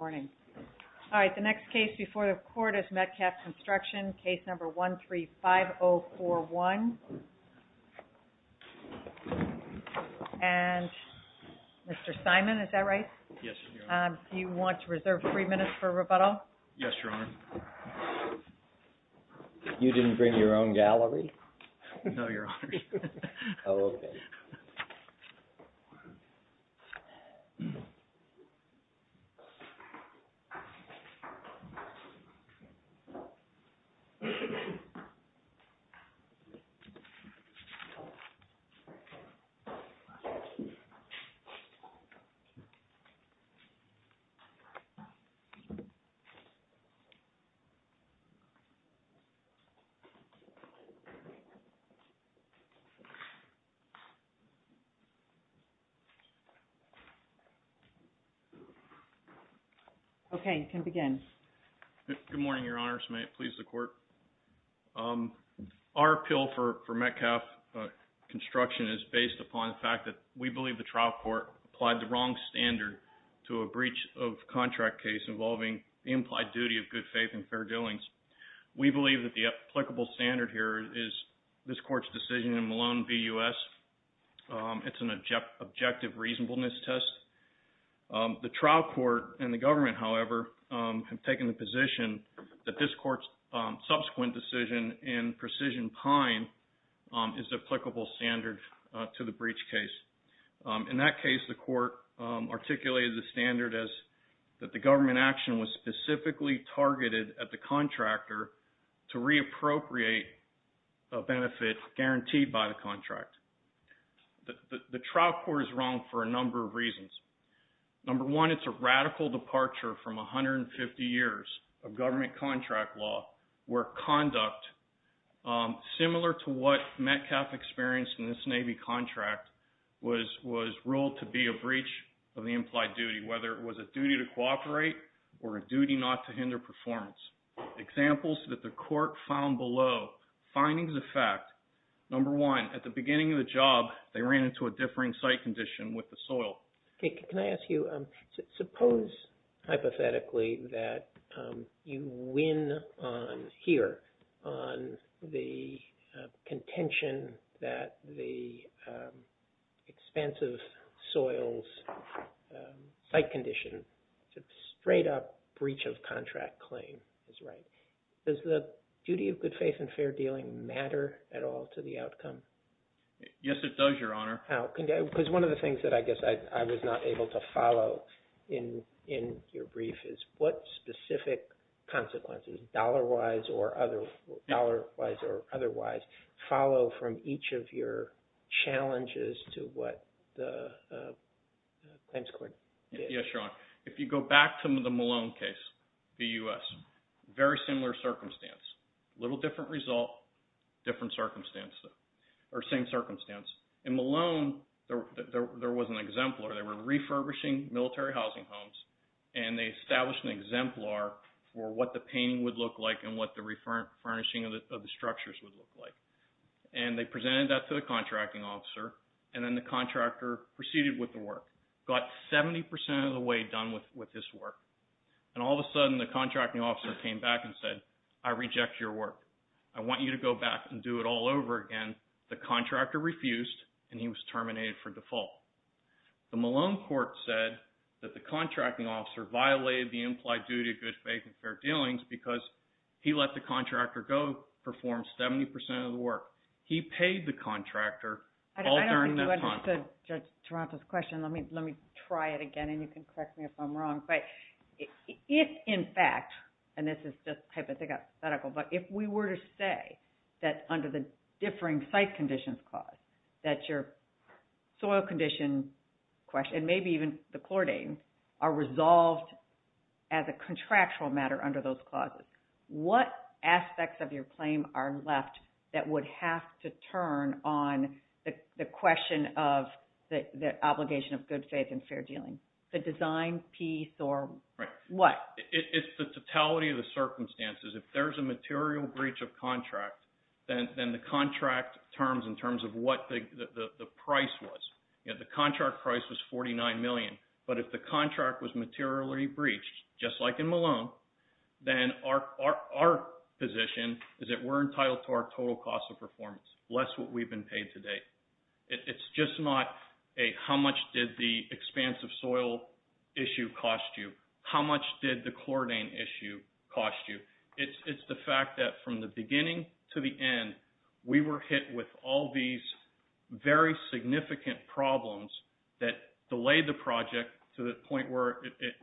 All right, the next case before the court is Metcalf Construction, case number 135041. And Mr. Simon is that right? Yes. Do you want to reserve three minutes for rebuttal? Yes, in your own gallery? No, your honor. Okay, you can begin. Good morning, your honors. May it please the court? Our appeal for Metcalf Construction is based upon the fact that we believe the trial court applied the wrong standard to a breach of contract case involving the implied duty of good faith and fair doings. We believe that the applicable standard here is this court's decision in Malone v. U.S. It's an objective reasonableness test. The trial court and the government, however, have taken the position that this court's subsequent decision in Precision Pine is applicable standard to the breach case. In that case, the court articulated the standard as that the government action was specifically targeted at the contractor to reappropriate a benefit guaranteed by the contract. The trial court is wrong for a number of reasons. Number one, it's a radical departure from 150 years of government contract law where conduct similar to what Metcalf experienced in this Navy contract was ruled to be a breach of the implied duty, whether it was a duty to cooperate or a duty not to hinder performance. Examples that the court found below, findings of fact, number one, at the beginning of the job, they ran into a differing site condition with the soil. Okay, can I ask you, suppose hypothetically that you win on here, on the contention that the expansive soil's site condition, it's a straight-up breach of contract claim is right. Does the duty of good faith and fair dealing matter at all to the outcome? Yes, it does, Your Honor. How? Because one of the things that I guess I was not able to answer, dollar-wise or otherwise, follow from each of your challenges to what the claims court did. Yes, Your Honor. If you go back to the Malone case, the U.S., very similar circumstance, little different result, different circumstance, or same circumstance. In Malone, there was an exemplar. They were refurbishing military housing homes and they established an exemplar for what the painting would look like and what the refurnishing of the structures would look like. They presented that to the contracting officer and then the contractor proceeded with the work, got 70% of the way done with this work. All of a sudden, the contracting officer came back and said, I reject your work. I want you to go back and do it all over again. The contractor refused and he was terminated for default. The Malone court said that the duty of good faith and fair dealings because he let the contractor go perform 70% of the work. He paid the contractor all during that time. I don't think you understood Judge Taranto's question. Let me try it again and you can correct me if I'm wrong. If in fact, and this is just hypothetical, but if we were to say that under the differing site conditions clause, that your contractual matter under those clauses, what aspects of your claim are left that would have to turn on the question of the obligation of good faith and fair dealing? The design piece or what? Right. It's the totality of the circumstances. If there's a material breach of contract, then the contract terms in terms of what the price was. The contract price was $49 million, but if the contract was materially breached, just like in Malone, then our position is that we're entitled to our total cost of performance, less what we've been paid to date. It's just not a, how much did the expansive soil issue cost you? How much did the chloridane issue cost you? It's the fact that from the beginning to the end, we were hit with all these very significant problems that delayed the project to the point where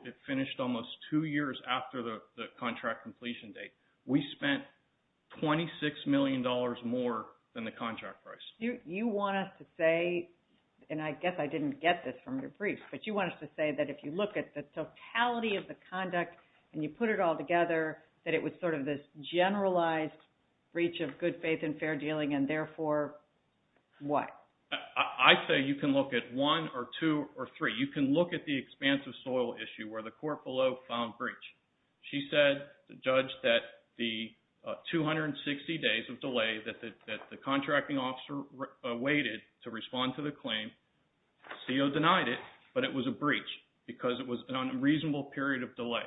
it finished almost two years after the contract completion date. We spent $26 million more than the contract price. You want us to say, and I guess I didn't get this from your brief, but you want us to say that if you look at the totality of the conduct and you put it all together, that it was sort of this generalized breach of good faith and fair dealing and therefore what? I say you can look at one or two or three. You can look at the expansive soil issue where the court below found breach. She said, the judge, that the 260 days of delay that the contracting officer waited to respond to the claim, CO denied it, but it was a breach because it was an unreasonable period of delay.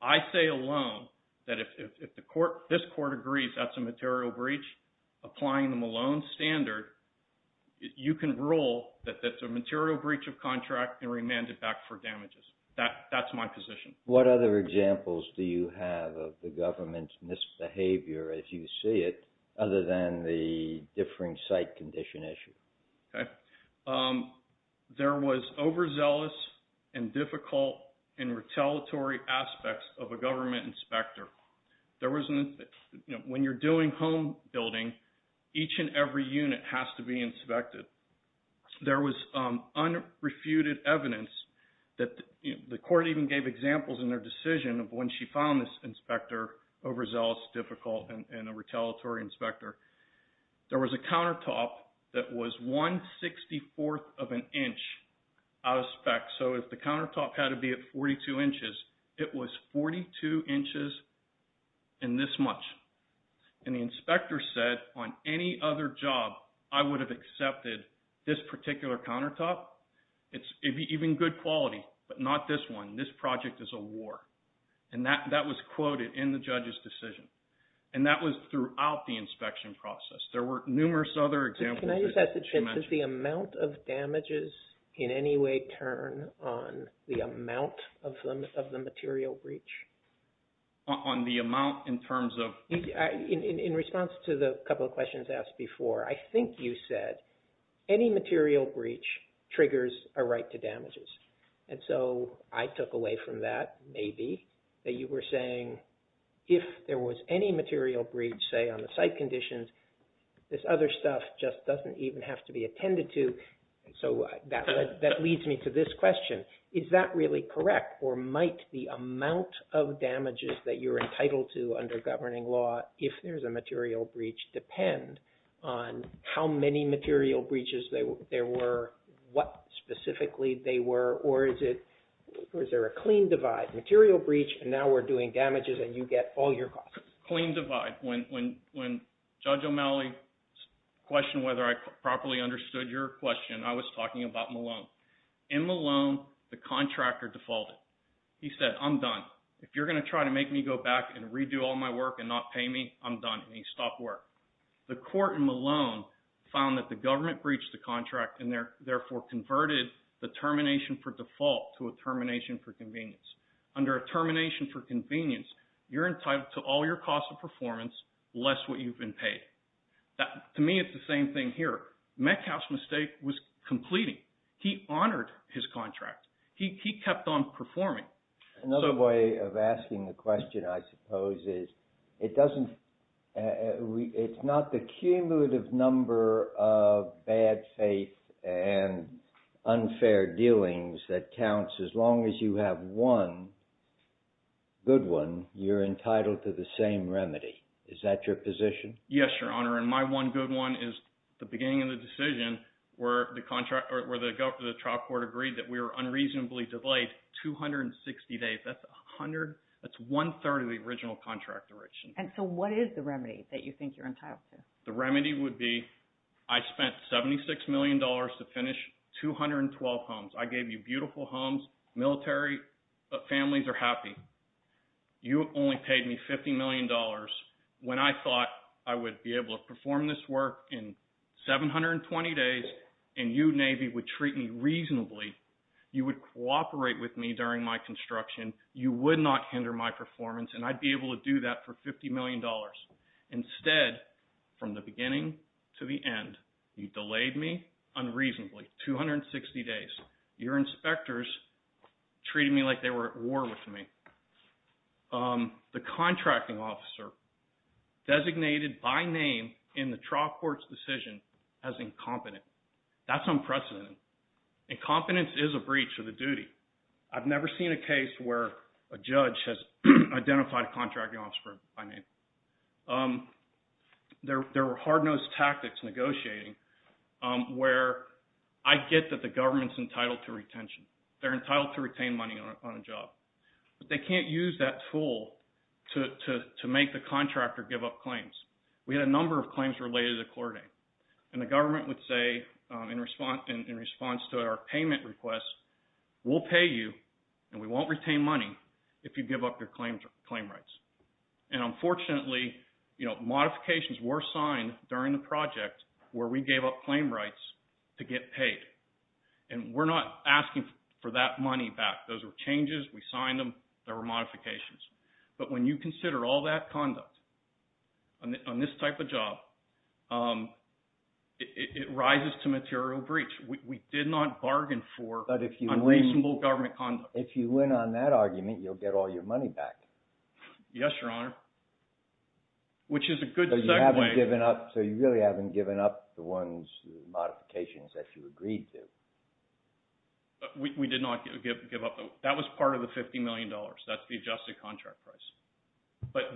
I say alone that if this court agrees that's a material breach, applying the Malone standard, you can rule that that's a material breach of contract and remand it back for damages. That's my position. What other examples do you have of the government's misbehavior as you see it other than the differing site condition issue? There was overzealous and difficult and retaliatory aspects of a government inspector. When you're doing home building, each and every unit has to be inspected. There was unrefuted evidence that the court even gave examples in their decision of when she found this inspector overzealous, difficult, and a retaliatory inspector. There was a countertop that was 1 64th of an inch out of spec, so if countertop had to be at 42 inches, it was 42 inches and this much. The inspector said, on any other job, I would have accepted this particular countertop. It'd be even good quality, but not this one. This project is a war. That was quoted in the judge's decision. That was throughout the inspection process. There were numerous other examples that she mentioned. Does the amount of damages in any way turn on the amount of the material breach? On the amount in terms of... In response to the couple of questions asked before, I think you said any material breach triggers a right to damages. I took away from that, maybe, that you were saying if there was any material breach, say, on the site conditions, this other stuff just doesn't even have to be attended to, so that leads me to this question. Is that really correct, or might the amount of damages that you're entitled to under governing law, if there's a material breach, depend on how many material breaches there were, what specifically they were, or is there a clean divide, material breach, and now we're doing damages, and you get all your costs? Clean divide. When Judge O'Malley questioned whether I properly understood your question, I was talking about Malone. In Malone, the contractor defaulted. He said, I'm done. If you're going to try to make me go back and redo all my work and not pay me, I'm done, and he stopped work. The court in Malone found that the government breached the contract and therefore converted the termination for default to a termination for convenience. Under a termination for convenience, you're entitled to all your costs of performance, less what you've been paid. To me, it's the same thing here. Metcalf's mistake was completing. He honored his contract. He kept on performing. Another way of asking the question, I suppose, is it's not the cumulative number of bad faith and unfair dealings that counts. As long as you have one good one, you're entitled to the same remedy. Is that your position? Yes, Your Honor, and my one good one is the beginning of the decision where the trial court agreed that we were unreasonably delayed 260 days. That's one-third of the original contract duration. What is the remedy that you are entitled to? The remedy would be I spent $76 million to finish 212 homes. I gave you beautiful homes. Military families are happy. You only paid me $50 million when I thought I would be able to perform this work in 720 days and you, Navy, would treat me reasonably. You would cooperate with me during my construction. You would not hinder my performance, and I'd be able to do that for $50 from the beginning to the end. You delayed me unreasonably 260 days. Your inspectors treated me like they were at war with me. The contracting officer designated by name in the trial court's decision as incompetent. That's unprecedented. Incompetence is a breach of the duty. I've never seen a case where a judge has identified a contracting officer by name. There were hard-nosed tactics negotiating where I get that the government's entitled to retention. They're entitled to retain money on a job, but they can't use that tool to make the contractor give up claims. We had a number of claims related to Clordane, and the government would say in response to our payment request, we'll pay you and we won't retain money if you give up claim rights. Unfortunately, modifications were signed during the project where we gave up claim rights to get paid. We're not asking for that money back. Those were changes. We signed them. There were modifications. When you consider all that conduct on this type of job, it rises to material breach. We did not bargain for unreasonable government conduct. If you win on that argument, you'll get all your money back. Yes, Your Honor, which is a good segue. So you really haven't given up the modifications that you agreed to? We did not give up. That was part of the $50 million. That's the adjusted contract price.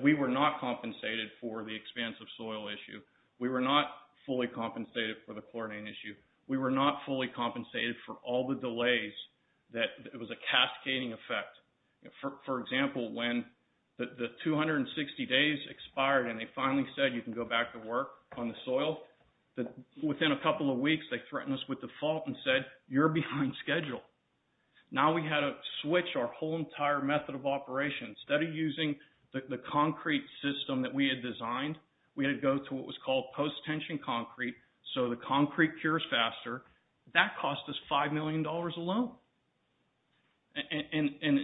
We were not compensated for the expansive soil issue. We were not fully compensated for the Clordane issue. We were not fully compensated for all the delays. It was a for example, when the 260 days expired and they finally said you can go back to work on the soil. Within a couple of weeks, they threatened us with default and said, you're behind schedule. Now we had to switch our whole entire method of operation. Instead of using the concrete system that we had designed, we had to go to what was called post-tension concrete so the concrete cures faster. That cost us $5 million alone. And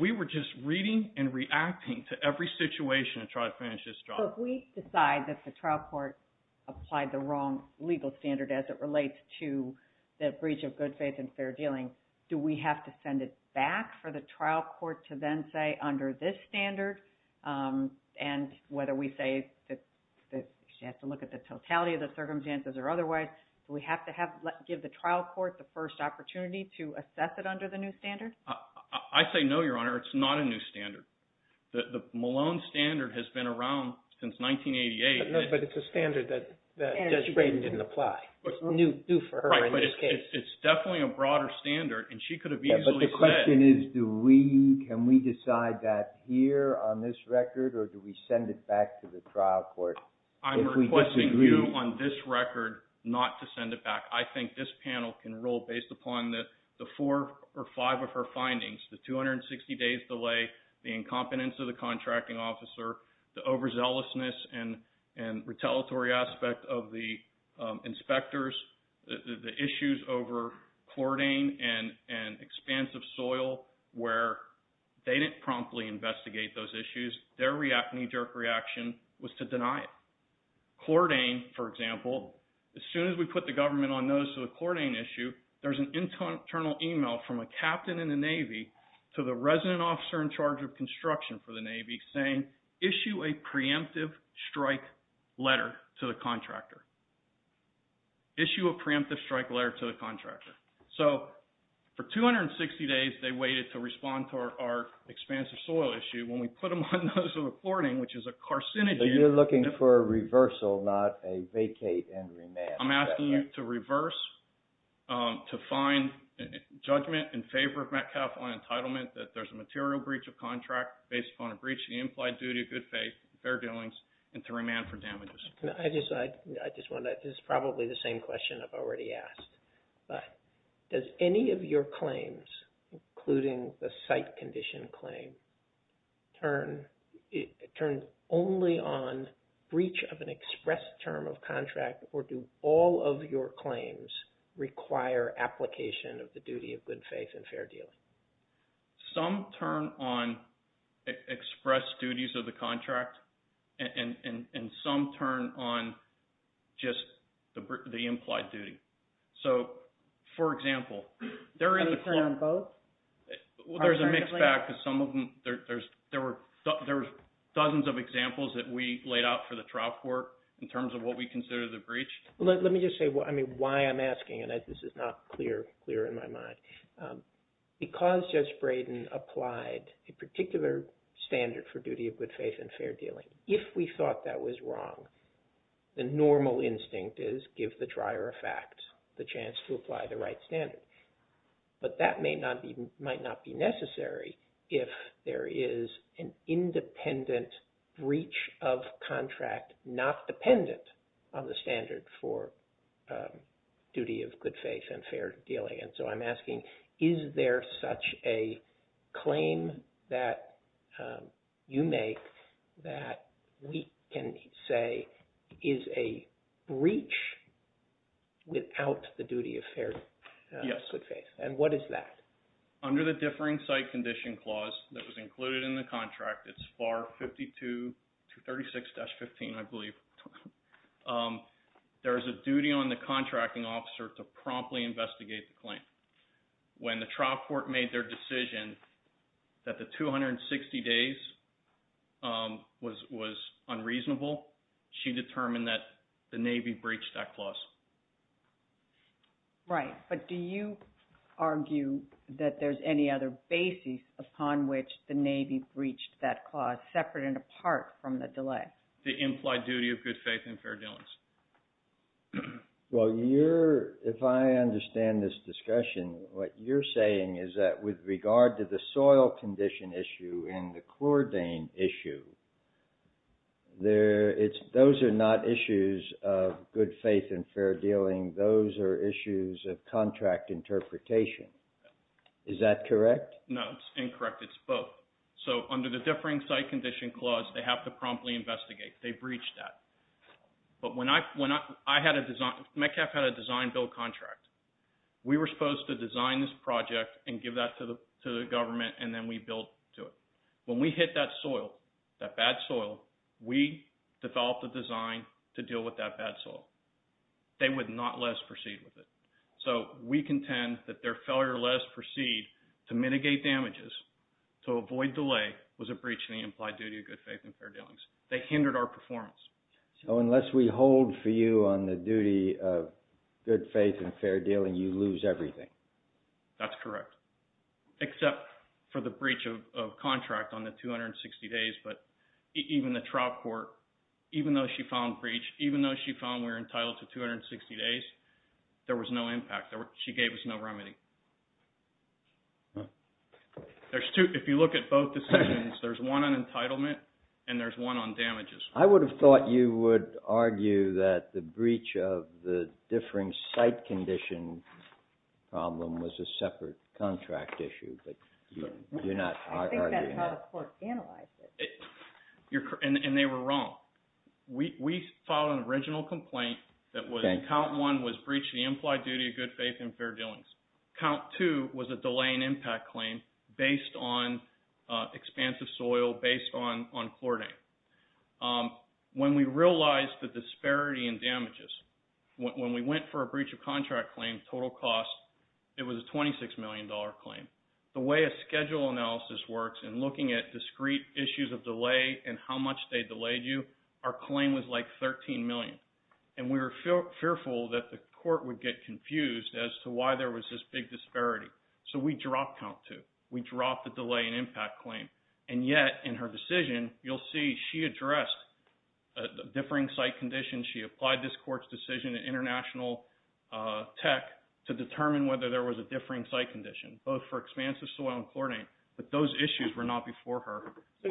we were just reading and reacting to every situation to try to finish this job. So if we decide that the trial court applied the wrong legal standard as it relates to the breach of good faith and fair dealing, do we have to send it back for the trial court to then say under this standard? And whether we say that you have to look at the totality of the circumstances or otherwise, have to give the trial court the first opportunity to assess it under the new standard? I say no, Your Honor. It's not a new standard. The Malone standard has been around since 1988. But it's a standard that Judge Brayden didn't apply. It's new for her in this case. It's definitely a broader standard and she could have easily said. But the question is, can we decide that here on this record or do we send it back to the trial court? I'm requesting you on this record not to send it back. I think this panel can rule based upon the four or five of her findings, the 260 days delay, the incompetence of the contracting officer, the overzealousness and retaliatory aspect of the inspectors, the issues over chloridane and expansive soil where they didn't promptly investigate those issues. Their knee-jerk reaction was to deny it. Chloridane, for example, as soon as we put the government on notice of the chloridane issue, there's an internal email from a captain in the Navy to the resident officer in charge of construction for the Navy saying, issue a preemptive strike letter to the contractor. Issue a preemptive strike letter to the contractor. So for 260 days they waited to respond to our expansive soil issue. When we put them on notice of the chloridane, which is a carcinogen... So you're looking for a reversal, not a vacate and remand. I'm asking you to reverse, to find judgment in favor of Metcalfe on entitlement that there's a material breach of contract based upon a breach of the implied duty of good faith, fair dealings, and to remand for damages. I just want to, this is probably the same question I've already asked, but does any of your claims, including the site condition claim, turn only on breach of an express term of contract or do all of your claims require application of the duty of good faith and fair dealing? Some turn on express duties of the contract and some turn on just the implied duty. So, for example, they're in the... They turn on both? Alternatively? Well, there's a mixed bag because some of them, there were dozens of examples that we laid out for the trial court in terms of what we consider the breach. Let me just say, I mean, why I'm asking, and this is not clear in my mind. Because Judge Braden applied a particular standard for duty of good faith and fair dealing, if we thought that was wrong, the normal instinct is give the trier a fact, the chance to apply the right standard. But that might not be necessary if there is an independent breach of contract not dependent on the standard for duty of good faith and fair dealing. And so I'm asking, is there such a claim that you make that we can say is a breach without the duty of fair good faith? And what is that? Under the differing site condition clause that was included in the contract, it's FAR 52, 236-15, I believe. There's a duty on the contracting officer to promptly investigate the claim. When the trial court made their decision that the 260 days was unreasonable, she determined that the Navy breached that clause. Right. But do you argue that there's any other basis upon which the Navy breached that clause separate and apart from the delay? The implied duty of good faith and fair dealings. Well, if I understand this discussion, what you're saying is that with regard to the soil condition issue and the chlordane issue, those are not issues of good faith and fair dealing. Those are issues of contract interpretation. Is that correct? No, it's incorrect. It's both. So under the differing site condition clause, they have to promptly investigate. They breached that. But Metcalfe had a design-build contract. We were supposed to design this project and give that to the government, and then we built to it. When we hit that soil, that bad soil, we developed a design to deal with that bad soil. They would not let us proceed with it. So we contend that their failure to let us proceed to mitigate damages, to avoid delay, was a breach in the implied duty of good faith and fair dealings. They hindered our performance. So unless we hold for you on the duty of good faith and fair dealing, you lose everything. That's correct, except for the breach of contract on the 260 days. But even the trial court, even though she found breach, even though she found we're entitled to 260 days, there was no impact. She gave us no remedy. If you look at both decisions, there's one on entitlement, and there's one on damages. I would have thought you would argue that the breach of the differing site condition problem was a separate contract issue, but you're not arguing that. I think that's how the court analyzed it. And they were wrong. We filed an original complaint that count one was breach of the implied duty of good faith and fair dealings. Count two was a delay in impact claim based on expansive soil, based on chlorinated. When we realized the disparity in damages, when we went for a breach of contract claim, total cost, it was a $26 million claim. The way a schedule analysis works and looking at discrete issues of delay and how much they delayed you, our claim was like $13 million. And we were fearful that the court would get confused as to why there was this big disparity. So we dropped count two. We dropped the delay in impact claim. And yet in her decision, you'll see she addressed a differing site condition. She applied this court's decision in international tech to determine whether there was a differing site condition, both for expansive soil and chlorinated, but those issues were not before her at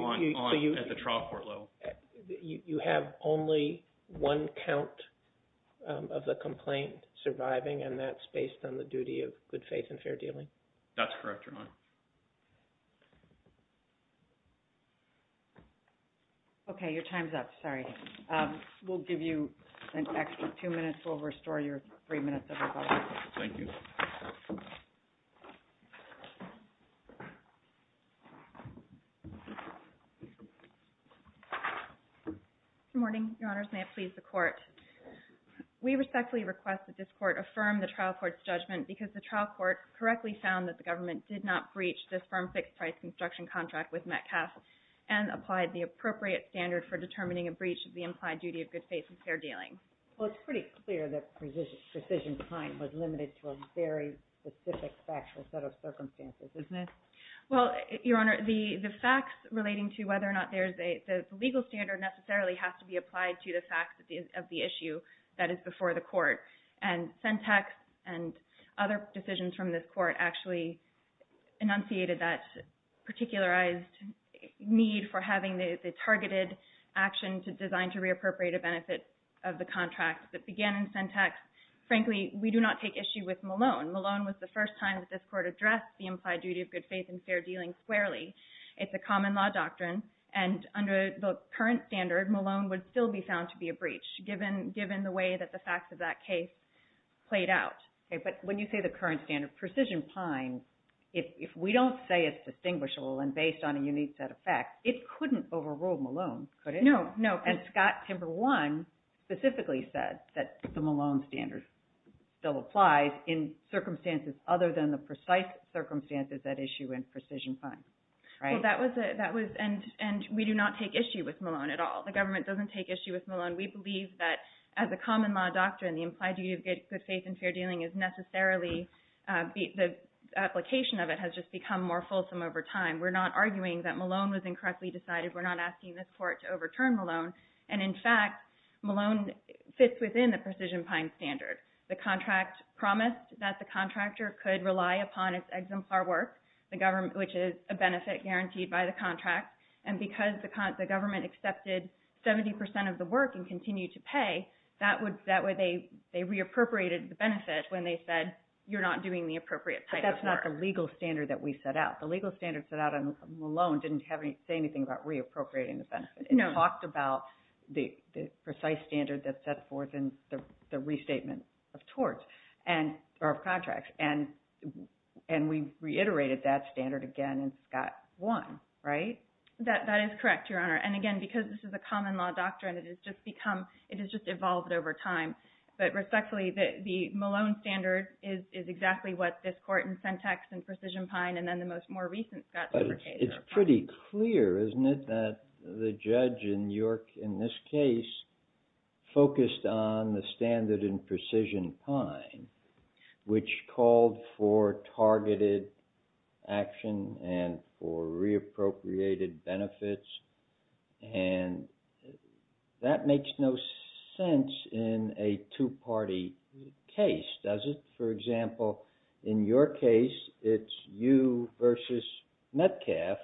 the trial court level. So you have only one count of the complaint surviving, and that's based on the duty of good faith and fair dealing? That's correct, Your Honor. Okay. Your time's up. Sorry. We'll give you an extra two minutes. We'll restore your three minutes of rebuttal. Thank you. Good morning, Your Honors. May it please the court. We respectfully request that this court affirm the trial court's judgment because the trial court correctly found that the government did not breach this firm fixed price construction contract with Metcalfe and applied the appropriate standard for determining a breach of the implied duty of good faith and fair dealing. Well, it's pretty clear that precision time was limited to a very specific factual set of circumstances, isn't it? Well, Your Honor, the facts relating to whether or not there's a legal standard necessarily has to be applied to the facts of the issue that is before the court. And Sentex and other decisions from this court actually enunciated that particularized need for having the targeted action designed to reappropriate a benefit of the contract that began in Sentex. Frankly, we do not take issue with Malone. Malone was the first time that this court addressed the implied duty of good faith and fair dealing squarely. It's a common law doctrine, and under the current standard, Malone would still be found to be a breach, given the way that the facts of that case played out. Okay. But when you say the current standard, precision time, if we don't say it's distinguishable and based on a unique set of facts, it couldn't overrule Malone, could it? No, no. And Scott Timber One specifically said that the Malone standard still applies in circumstances other than the precise circumstances that issue in precision time, right? Well, that was a – and we do not take issue with Malone at all. The government doesn't take issue with Malone. We believe that as a common law doctrine, the implied duty of good faith and fair dealing is necessarily – the application of it has just become more fulsome over time. We're not arguing that Malone was incorrectly decided. We're not asking this court to overturn Malone. And in fact, Malone fits within the precision time standard. The contract promised that the contractor could rely upon its exemplar work, which is a benefit guaranteed by the contract. And because the government accepted 70 percent of the work and continued to pay, that would – that way they reappropriated the benefit when they said, you're not doing the appropriate type of work. That's not the legal standard that we set out. The legal standard set out on Malone didn't say anything about reappropriating the benefit. It talked about the precise standard that's set forth in the restatement of torts and – or of contracts. And we reiterated that standard again in Scott One, right? That is correct, Your Honor. And again, because this is a common law doctrine, it has just become – it has just evolved over time. But respectfully, the Malone standard is exactly what this court in Sentex and Precision Pine and then the most more recent Scott – But it's pretty clear, isn't it, that the judge in York in this case focused on the standard in Precision Pine, which called for targeted action and for reappropriated benefits. And that makes no sense in a two-party case, does it? For example, in your case, it's you versus Metcalf.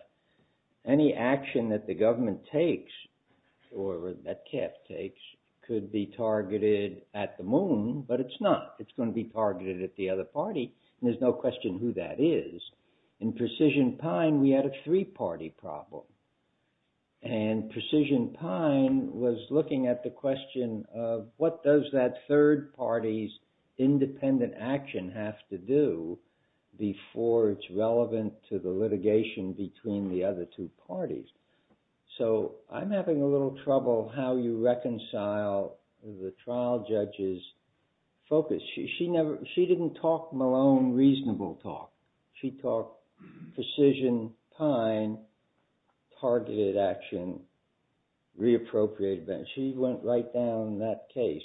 Any action that the government takes or that Metcalf takes could be targeted at the Moon, but it's not. It's going to be targeted at the other party, and there's no question who that is. In Precision Pine, we had a three-party problem. And Precision Pine was looking at the question of what does that third party's independent action have to do before it's relevant to the litigation between the other two parties. So I'm having a little trouble how you reconcile the trial judge's focus. She didn't talk Malone reasonable talk. She talked Precision Pine, targeted action, reappropriated benefits. She went right down that case.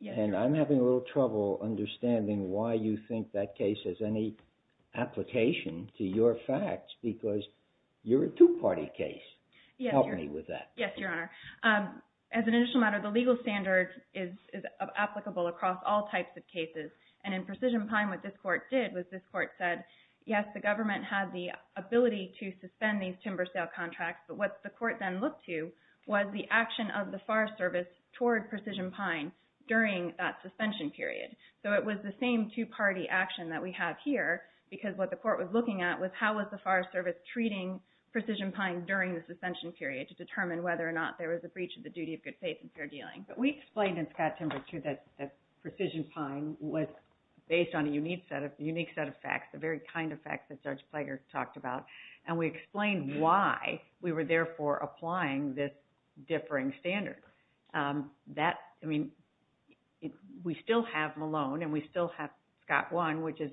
Yes, Your Honor. And I'm having a little trouble understanding why you think that case has any application to your facts, because you're a two-party case. Help me with that. Yes, Your Honor. As an initial matter, the legal standard is applicable across all types of cases. And in Precision Pine, what this court did was this court said, yes, the government had the ability to suspend these timber sale contracts. But what the court then looked to was the action of the Forest Service toward Precision Pine during that suspension period. So it was the same two-party action that we have here, because what the court was looking at was how was the Forest Service treating Precision Pine during the suspension period to determine whether or not there was a breach of the duty of good faith and fair dealing. But we explained in Scott Timber, too, that Precision Pine was based on a unique set of facts, the very kind of facts that Judge Plager talked about. And we explained why we were therefore applying this differing standard. I mean, we still have Malone and we still have Scott One, which is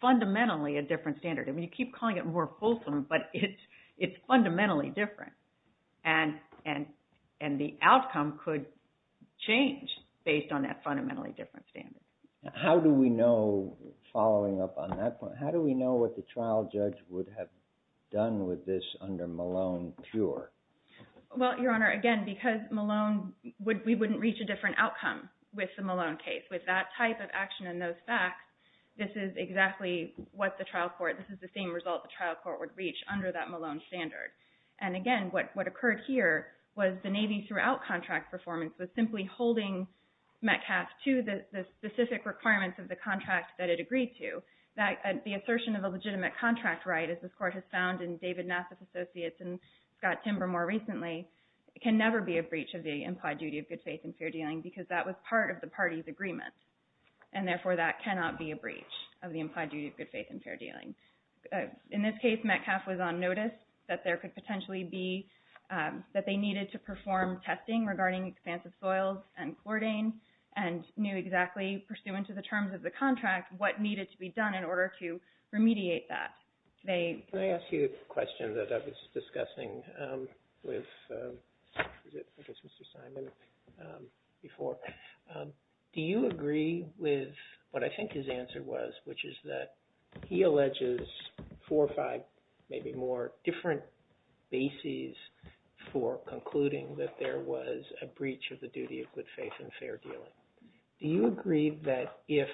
fundamentally a different standard. I mean, you keep calling it more different, but it's fundamentally different. And the outcome could change based on that fundamentally different standard. How do we know, following up on that point, how do we know what the trial judge would have done with this under Malone pure? Well, Your Honor, again, because Malone, we wouldn't reach a different outcome with the Malone case. With that type of action and those facts, this is exactly what the trial court, this is the same result the trial court would reach under that Malone standard. And again, what occurred here was the Navy throughout contract performance was simply holding Metcalfe to the specific requirements of the contract that it agreed to. The assertion of a legitimate contract right, as this court has found in David Nassif Associates and Scott Timber more recently, can never be a breach of the implied duty of good faith and fair dealing because that was part of the party's agreement. And therefore, that cannot be a breach of the implied duty of good faith and fair dealing. In this case, Metcalfe was on notice that there could potentially be, that they needed to perform testing regarding expansive soils and chlordane and knew exactly, pursuant to the terms of the contract, what needed to be done in order to remediate that. Can I ask you a question that I was discussing with, I guess, Mr. Simon before? Do you agree with what I think his answer was, which is that he alleges four or five, maybe more, different bases for concluding that there was a breach of the duty of good faith and fair dealing. Do you agree that if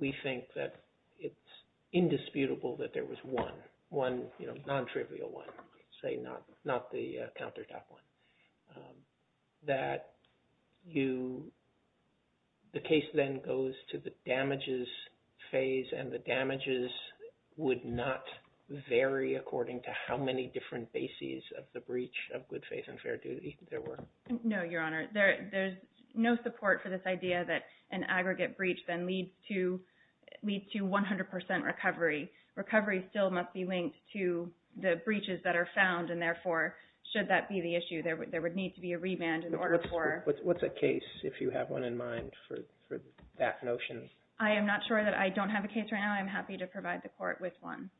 we think that it's indisputable that there was one, one, you know, you, the case then goes to the damages phase and the damages would not vary according to how many different bases of the breach of good faith and fair duty there were? No, Your Honor. There, there's no support for this idea that an aggregate breach then leads to, leads to 100 percent recovery. Recovery still must be linked to the breaches that are found and therefore, should that be the issue, there would, there would need to be a remand in order for... What's, what's a case if you have one in mind for, for that notion? I am not sure that I don't have a case right now. I'm happy to provide the court with one.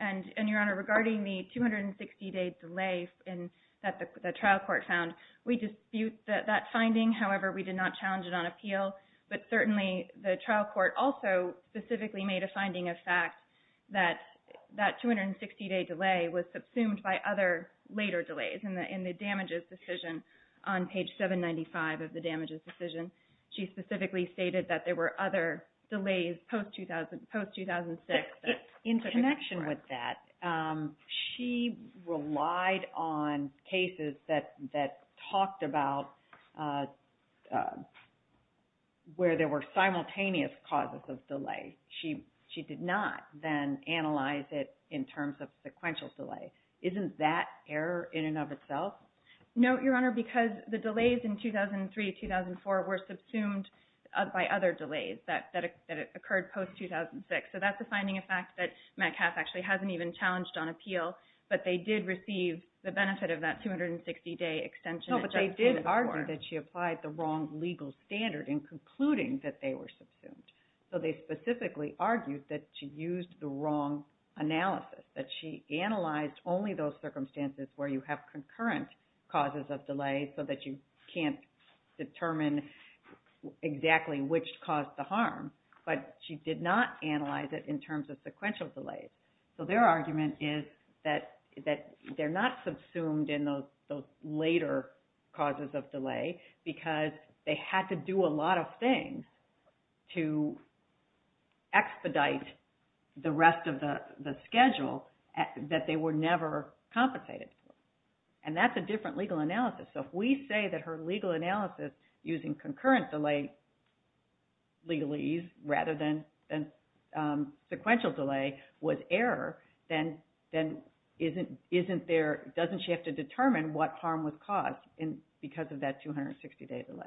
And, and Your Honor, regarding the 260-day delay in, that the, the trial court found, we dispute that, that finding. However, we did not challenge it on appeal, but certainly the trial court also specifically made a finding of fact that, that 260-day delay was subsumed by other later delays in the, in the damages decision on page 795 of the damages decision. She specifically stated that there were other delays post-2000, post-2006 that... In connection with that, she relied on cases that, that talked about where there were simultaneous causes of delay. She, she did not then analyze it in terms of sequential delay. Isn't that error in and of itself? No, Your Honor, because the delays in 2003-2004 were subsumed by other delays that, that occurred post-2006. So that's a finding of fact that Metcalfe actually hasn't even challenged on appeal, but they did receive the benefit of that 260-day extension. No, but they did argue that she applied the wrong legal standard in concluding that they were subsumed. So they specifically argued that she used the wrong analysis, that she analyzed only those circumstances where you have concurrent causes of delay so that you can't determine exactly which caused the harm, but she did not analyze it in terms of sequential delays. So their argument is that, that they're not subsumed in those, those later causes of delay because they had to do a lot of things to expedite the rest of the, the schedule that they were never compensated for. And that's a different legal analysis. So if we say that her legal analysis using concurrent delay legalese rather than, than sequential delay was error, then, then isn't, isn't there, doesn't she have to determine what harm was caused in, because of that 260-day delay?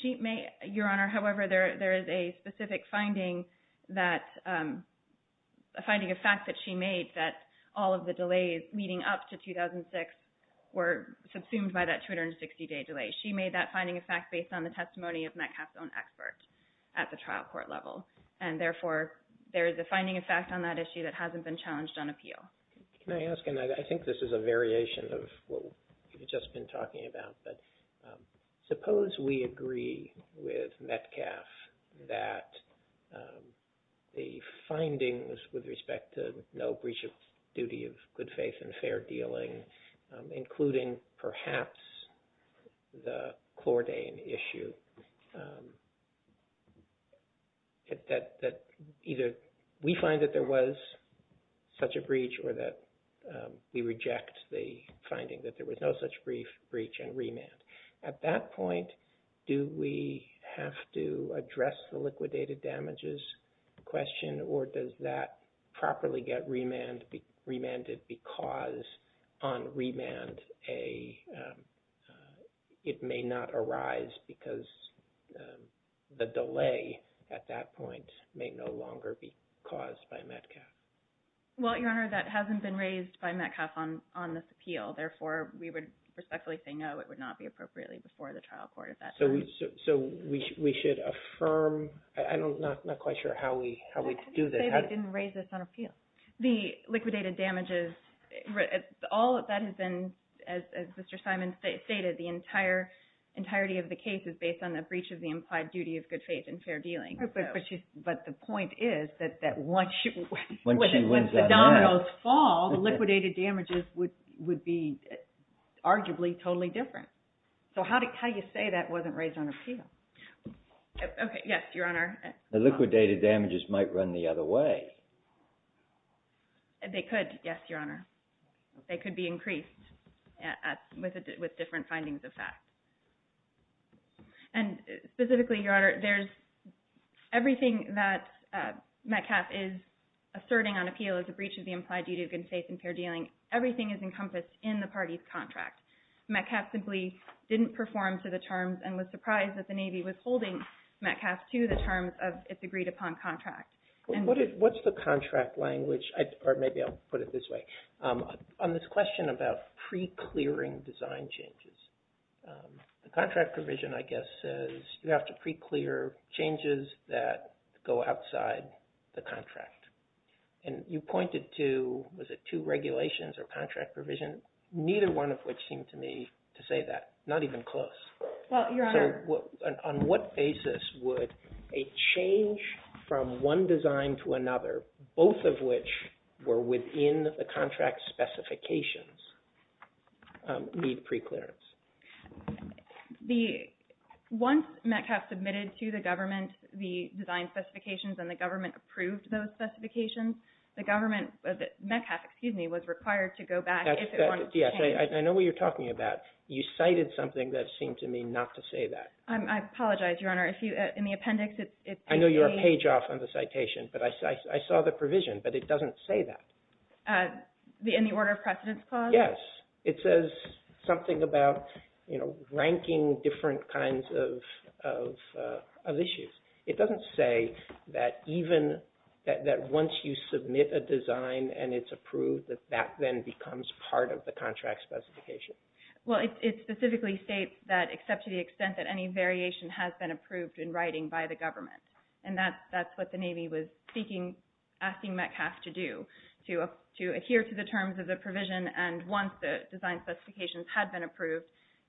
She may, Your Honor, however, there, there is a specific finding that, a finding of fact that she made that all of the delays leading up to 2006 were subsumed by that 260-day delay. She made that finding of fact based on the testimony of Metcalfe's own expert at the trial court level. And therefore, there is a finding of fact on that issue that hasn't been challenged on appeal. Can I ask, and I think this is a variation of what we've just been talking about, but suppose we agree with Metcalfe that the findings with respect to no breach of duty of good faith and fair dealing, including perhaps the Chlordane issue, that, that either we find that there was such a breach or that we reject the finding that there was no such brief breach and remand. At that point, do we have to address the liquidated damages question or does that properly get remand, remanded because on remand a, a, it may not arise because the delay at that point may no longer be caused by Metcalfe? Well, Your Honor, that hasn't been raised by Metcalfe on, on this appeal. Therefore, we would respectfully say, no, it would not be appropriately before the trial court at that time. So we, we should affirm, I don't, not, not quite sure how we, how we do that. They didn't raise this on appeal. The liquidated damages, all that has been, as, as Mr. Simon stated, the entire entirety of the case is based on the breach of the implied duty of good faith and fair dealing. But the point is that, that once, when the dominoes fall, the liquidated damages would, would be arguably totally different. So how do, how do you say that wasn't raised on appeal? Okay. Yes, Your Honor. The liquidated damages might run the other way. They could, yes, Your Honor. They could be increased at, at, with a, with different findings of fact. And specifically, Your Honor, there's everything that Metcalfe is asserting on appeal as a breach of the implied duty of good faith and fair dealing. Everything is encompassed in the party's contract. Metcalfe simply didn't perform to the terms and was surprised that the party didn't perform to the terms of its agreed upon contract. What's the contract language? Or maybe I'll put it this way. On this question about pre-clearing design changes, the contract provision, I guess, says you have to pre-clear changes that go outside the contract. And you pointed to, was it two regulations or contract provision? Neither one of which seemed to me to say that. Not even close. Well, Your Honor. On what basis would a change from one design to another, both of which were within the contract specifications, need pre-clearance? The, once Metcalfe submitted to the government the design specifications and the government approved those specifications, the government, Metcalfe, excuse me, was required to go back if it wanted to change. I know what you're talking about. You cited something that seemed to me not to say that. I apologize, Your Honor. In the appendix, it's... I know you're a page off on the citation, but I saw the provision, but it doesn't say that. In the order of precedence clause? Yes. It says something about, you know, ranking different kinds of issues. It doesn't say that even, that once you submit a design and it's approved, that that then becomes part of the contract specification. Well, it specifically states that, except to the extent that any variation has been approved in writing by the government. And that's what the Navy was seeking, asking Metcalfe to do, to adhere to the terms of the provision and once the design specifications had been approved,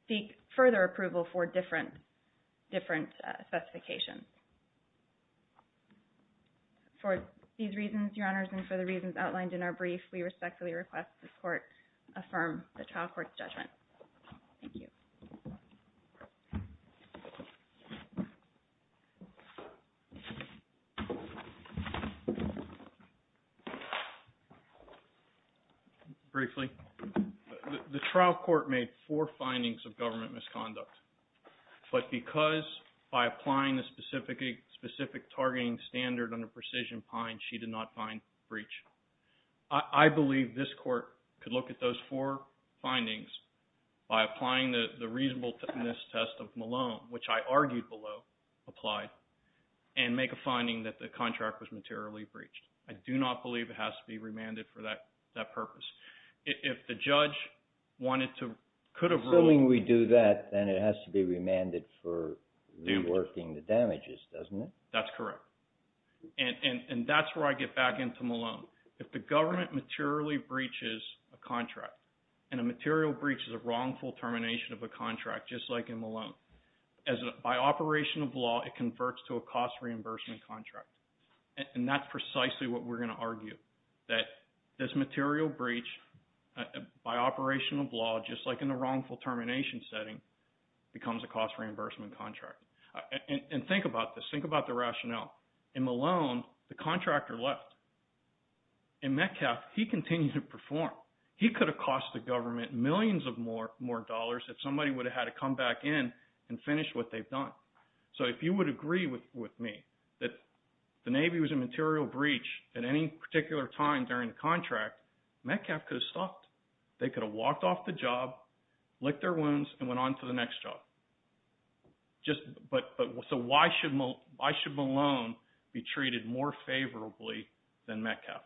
seek further approval for different specifications. For these reasons, Your Honors, and for the reasons outlined in our brief, we respectfully request this court affirm the trial court's judgment. Thank you. Briefly, the trial court made four findings of government misconduct. But because by applying the specific targeting standard on a precision pine, she did not find breach. I believe this court could look at those four findings by applying the reasonableness test of Malone, which I argued below, applied, and make a finding that the contract was materially breached. I do not believe it has to be remanded for that purpose. If the judge wanted to, could have ruled... That's correct. And that's where I get back into Malone. If the government materially breaches a contract, and a material breach is a wrongful termination of a contract, just like in Malone, by operation of law, it converts to a cost reimbursement contract. And that's precisely what we're going to argue, that this material breach, by operation of law, just like in the wrongful termination setting, becomes a cost reimbursement contract. And think about this. Think about the rationale. In Malone, the contractor left. In Metcalf, he continued to perform. He could have cost the government millions of more dollars if somebody would have had to come back in and finish what they've done. So if you would agree with me that the Navy was a material breach at any particular time during the contract, Metcalf could have stopped. They could have walked off the job, licked their wounds, and went on to the next job. So why should Malone be treated more favorably than Metcalf?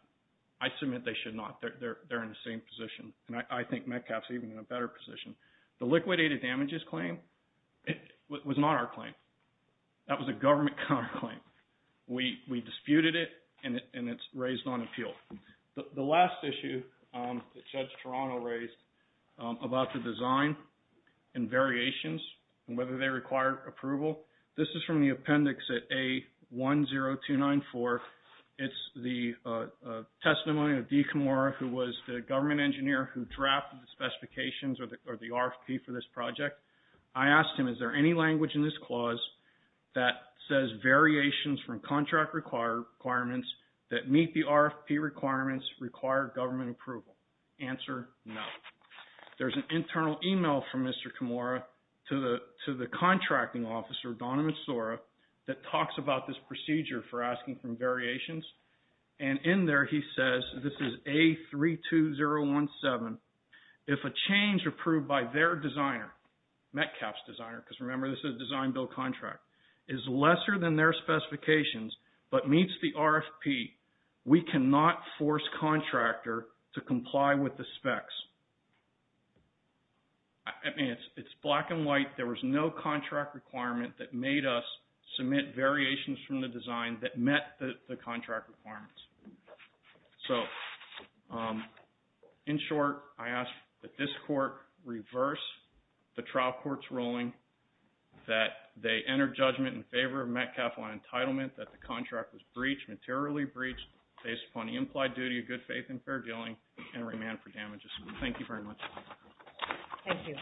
I submit they should not. They're in the same position. And I think Metcalf's even in a better position. The liquidated damages claim was not our claim. That was a government counterclaim. We disputed it, and it's raised on appeal. The last issue that Judge Toronto raised about the design and variations, and whether they require approval, this is from the appendix at A10294. It's the testimony of Dee Kimora, who was the government engineer who drafted the specifications or the RFP for this project. I asked him, is there any language in this clause that says variations from contract requirements that meet the RFP requirements require government approval? Answer, no. There's an internal email from Mr. Kimora to the contracting officer, Donovan Sora, that talks about this procedure for asking for variations. And in there, he says, this is A32017, if a change approved by their designer, Metcalf's designer, because remember this is a design-build contract, is lesser than their specifications but meets the RFP, we cannot force contractor to comply with the specs. I mean, it's black and white. There was no contract requirement that made us submit variations from the design that met the contract requirements. So, in short, I ask that this court reverse the trial court's ruling that they enter judgment in favor of Metcalf on entitlement, that the contract was breached, materially breached, based upon the implied duty of good faith and fair dealing, and remand for damages. Thank you very much. Thank you.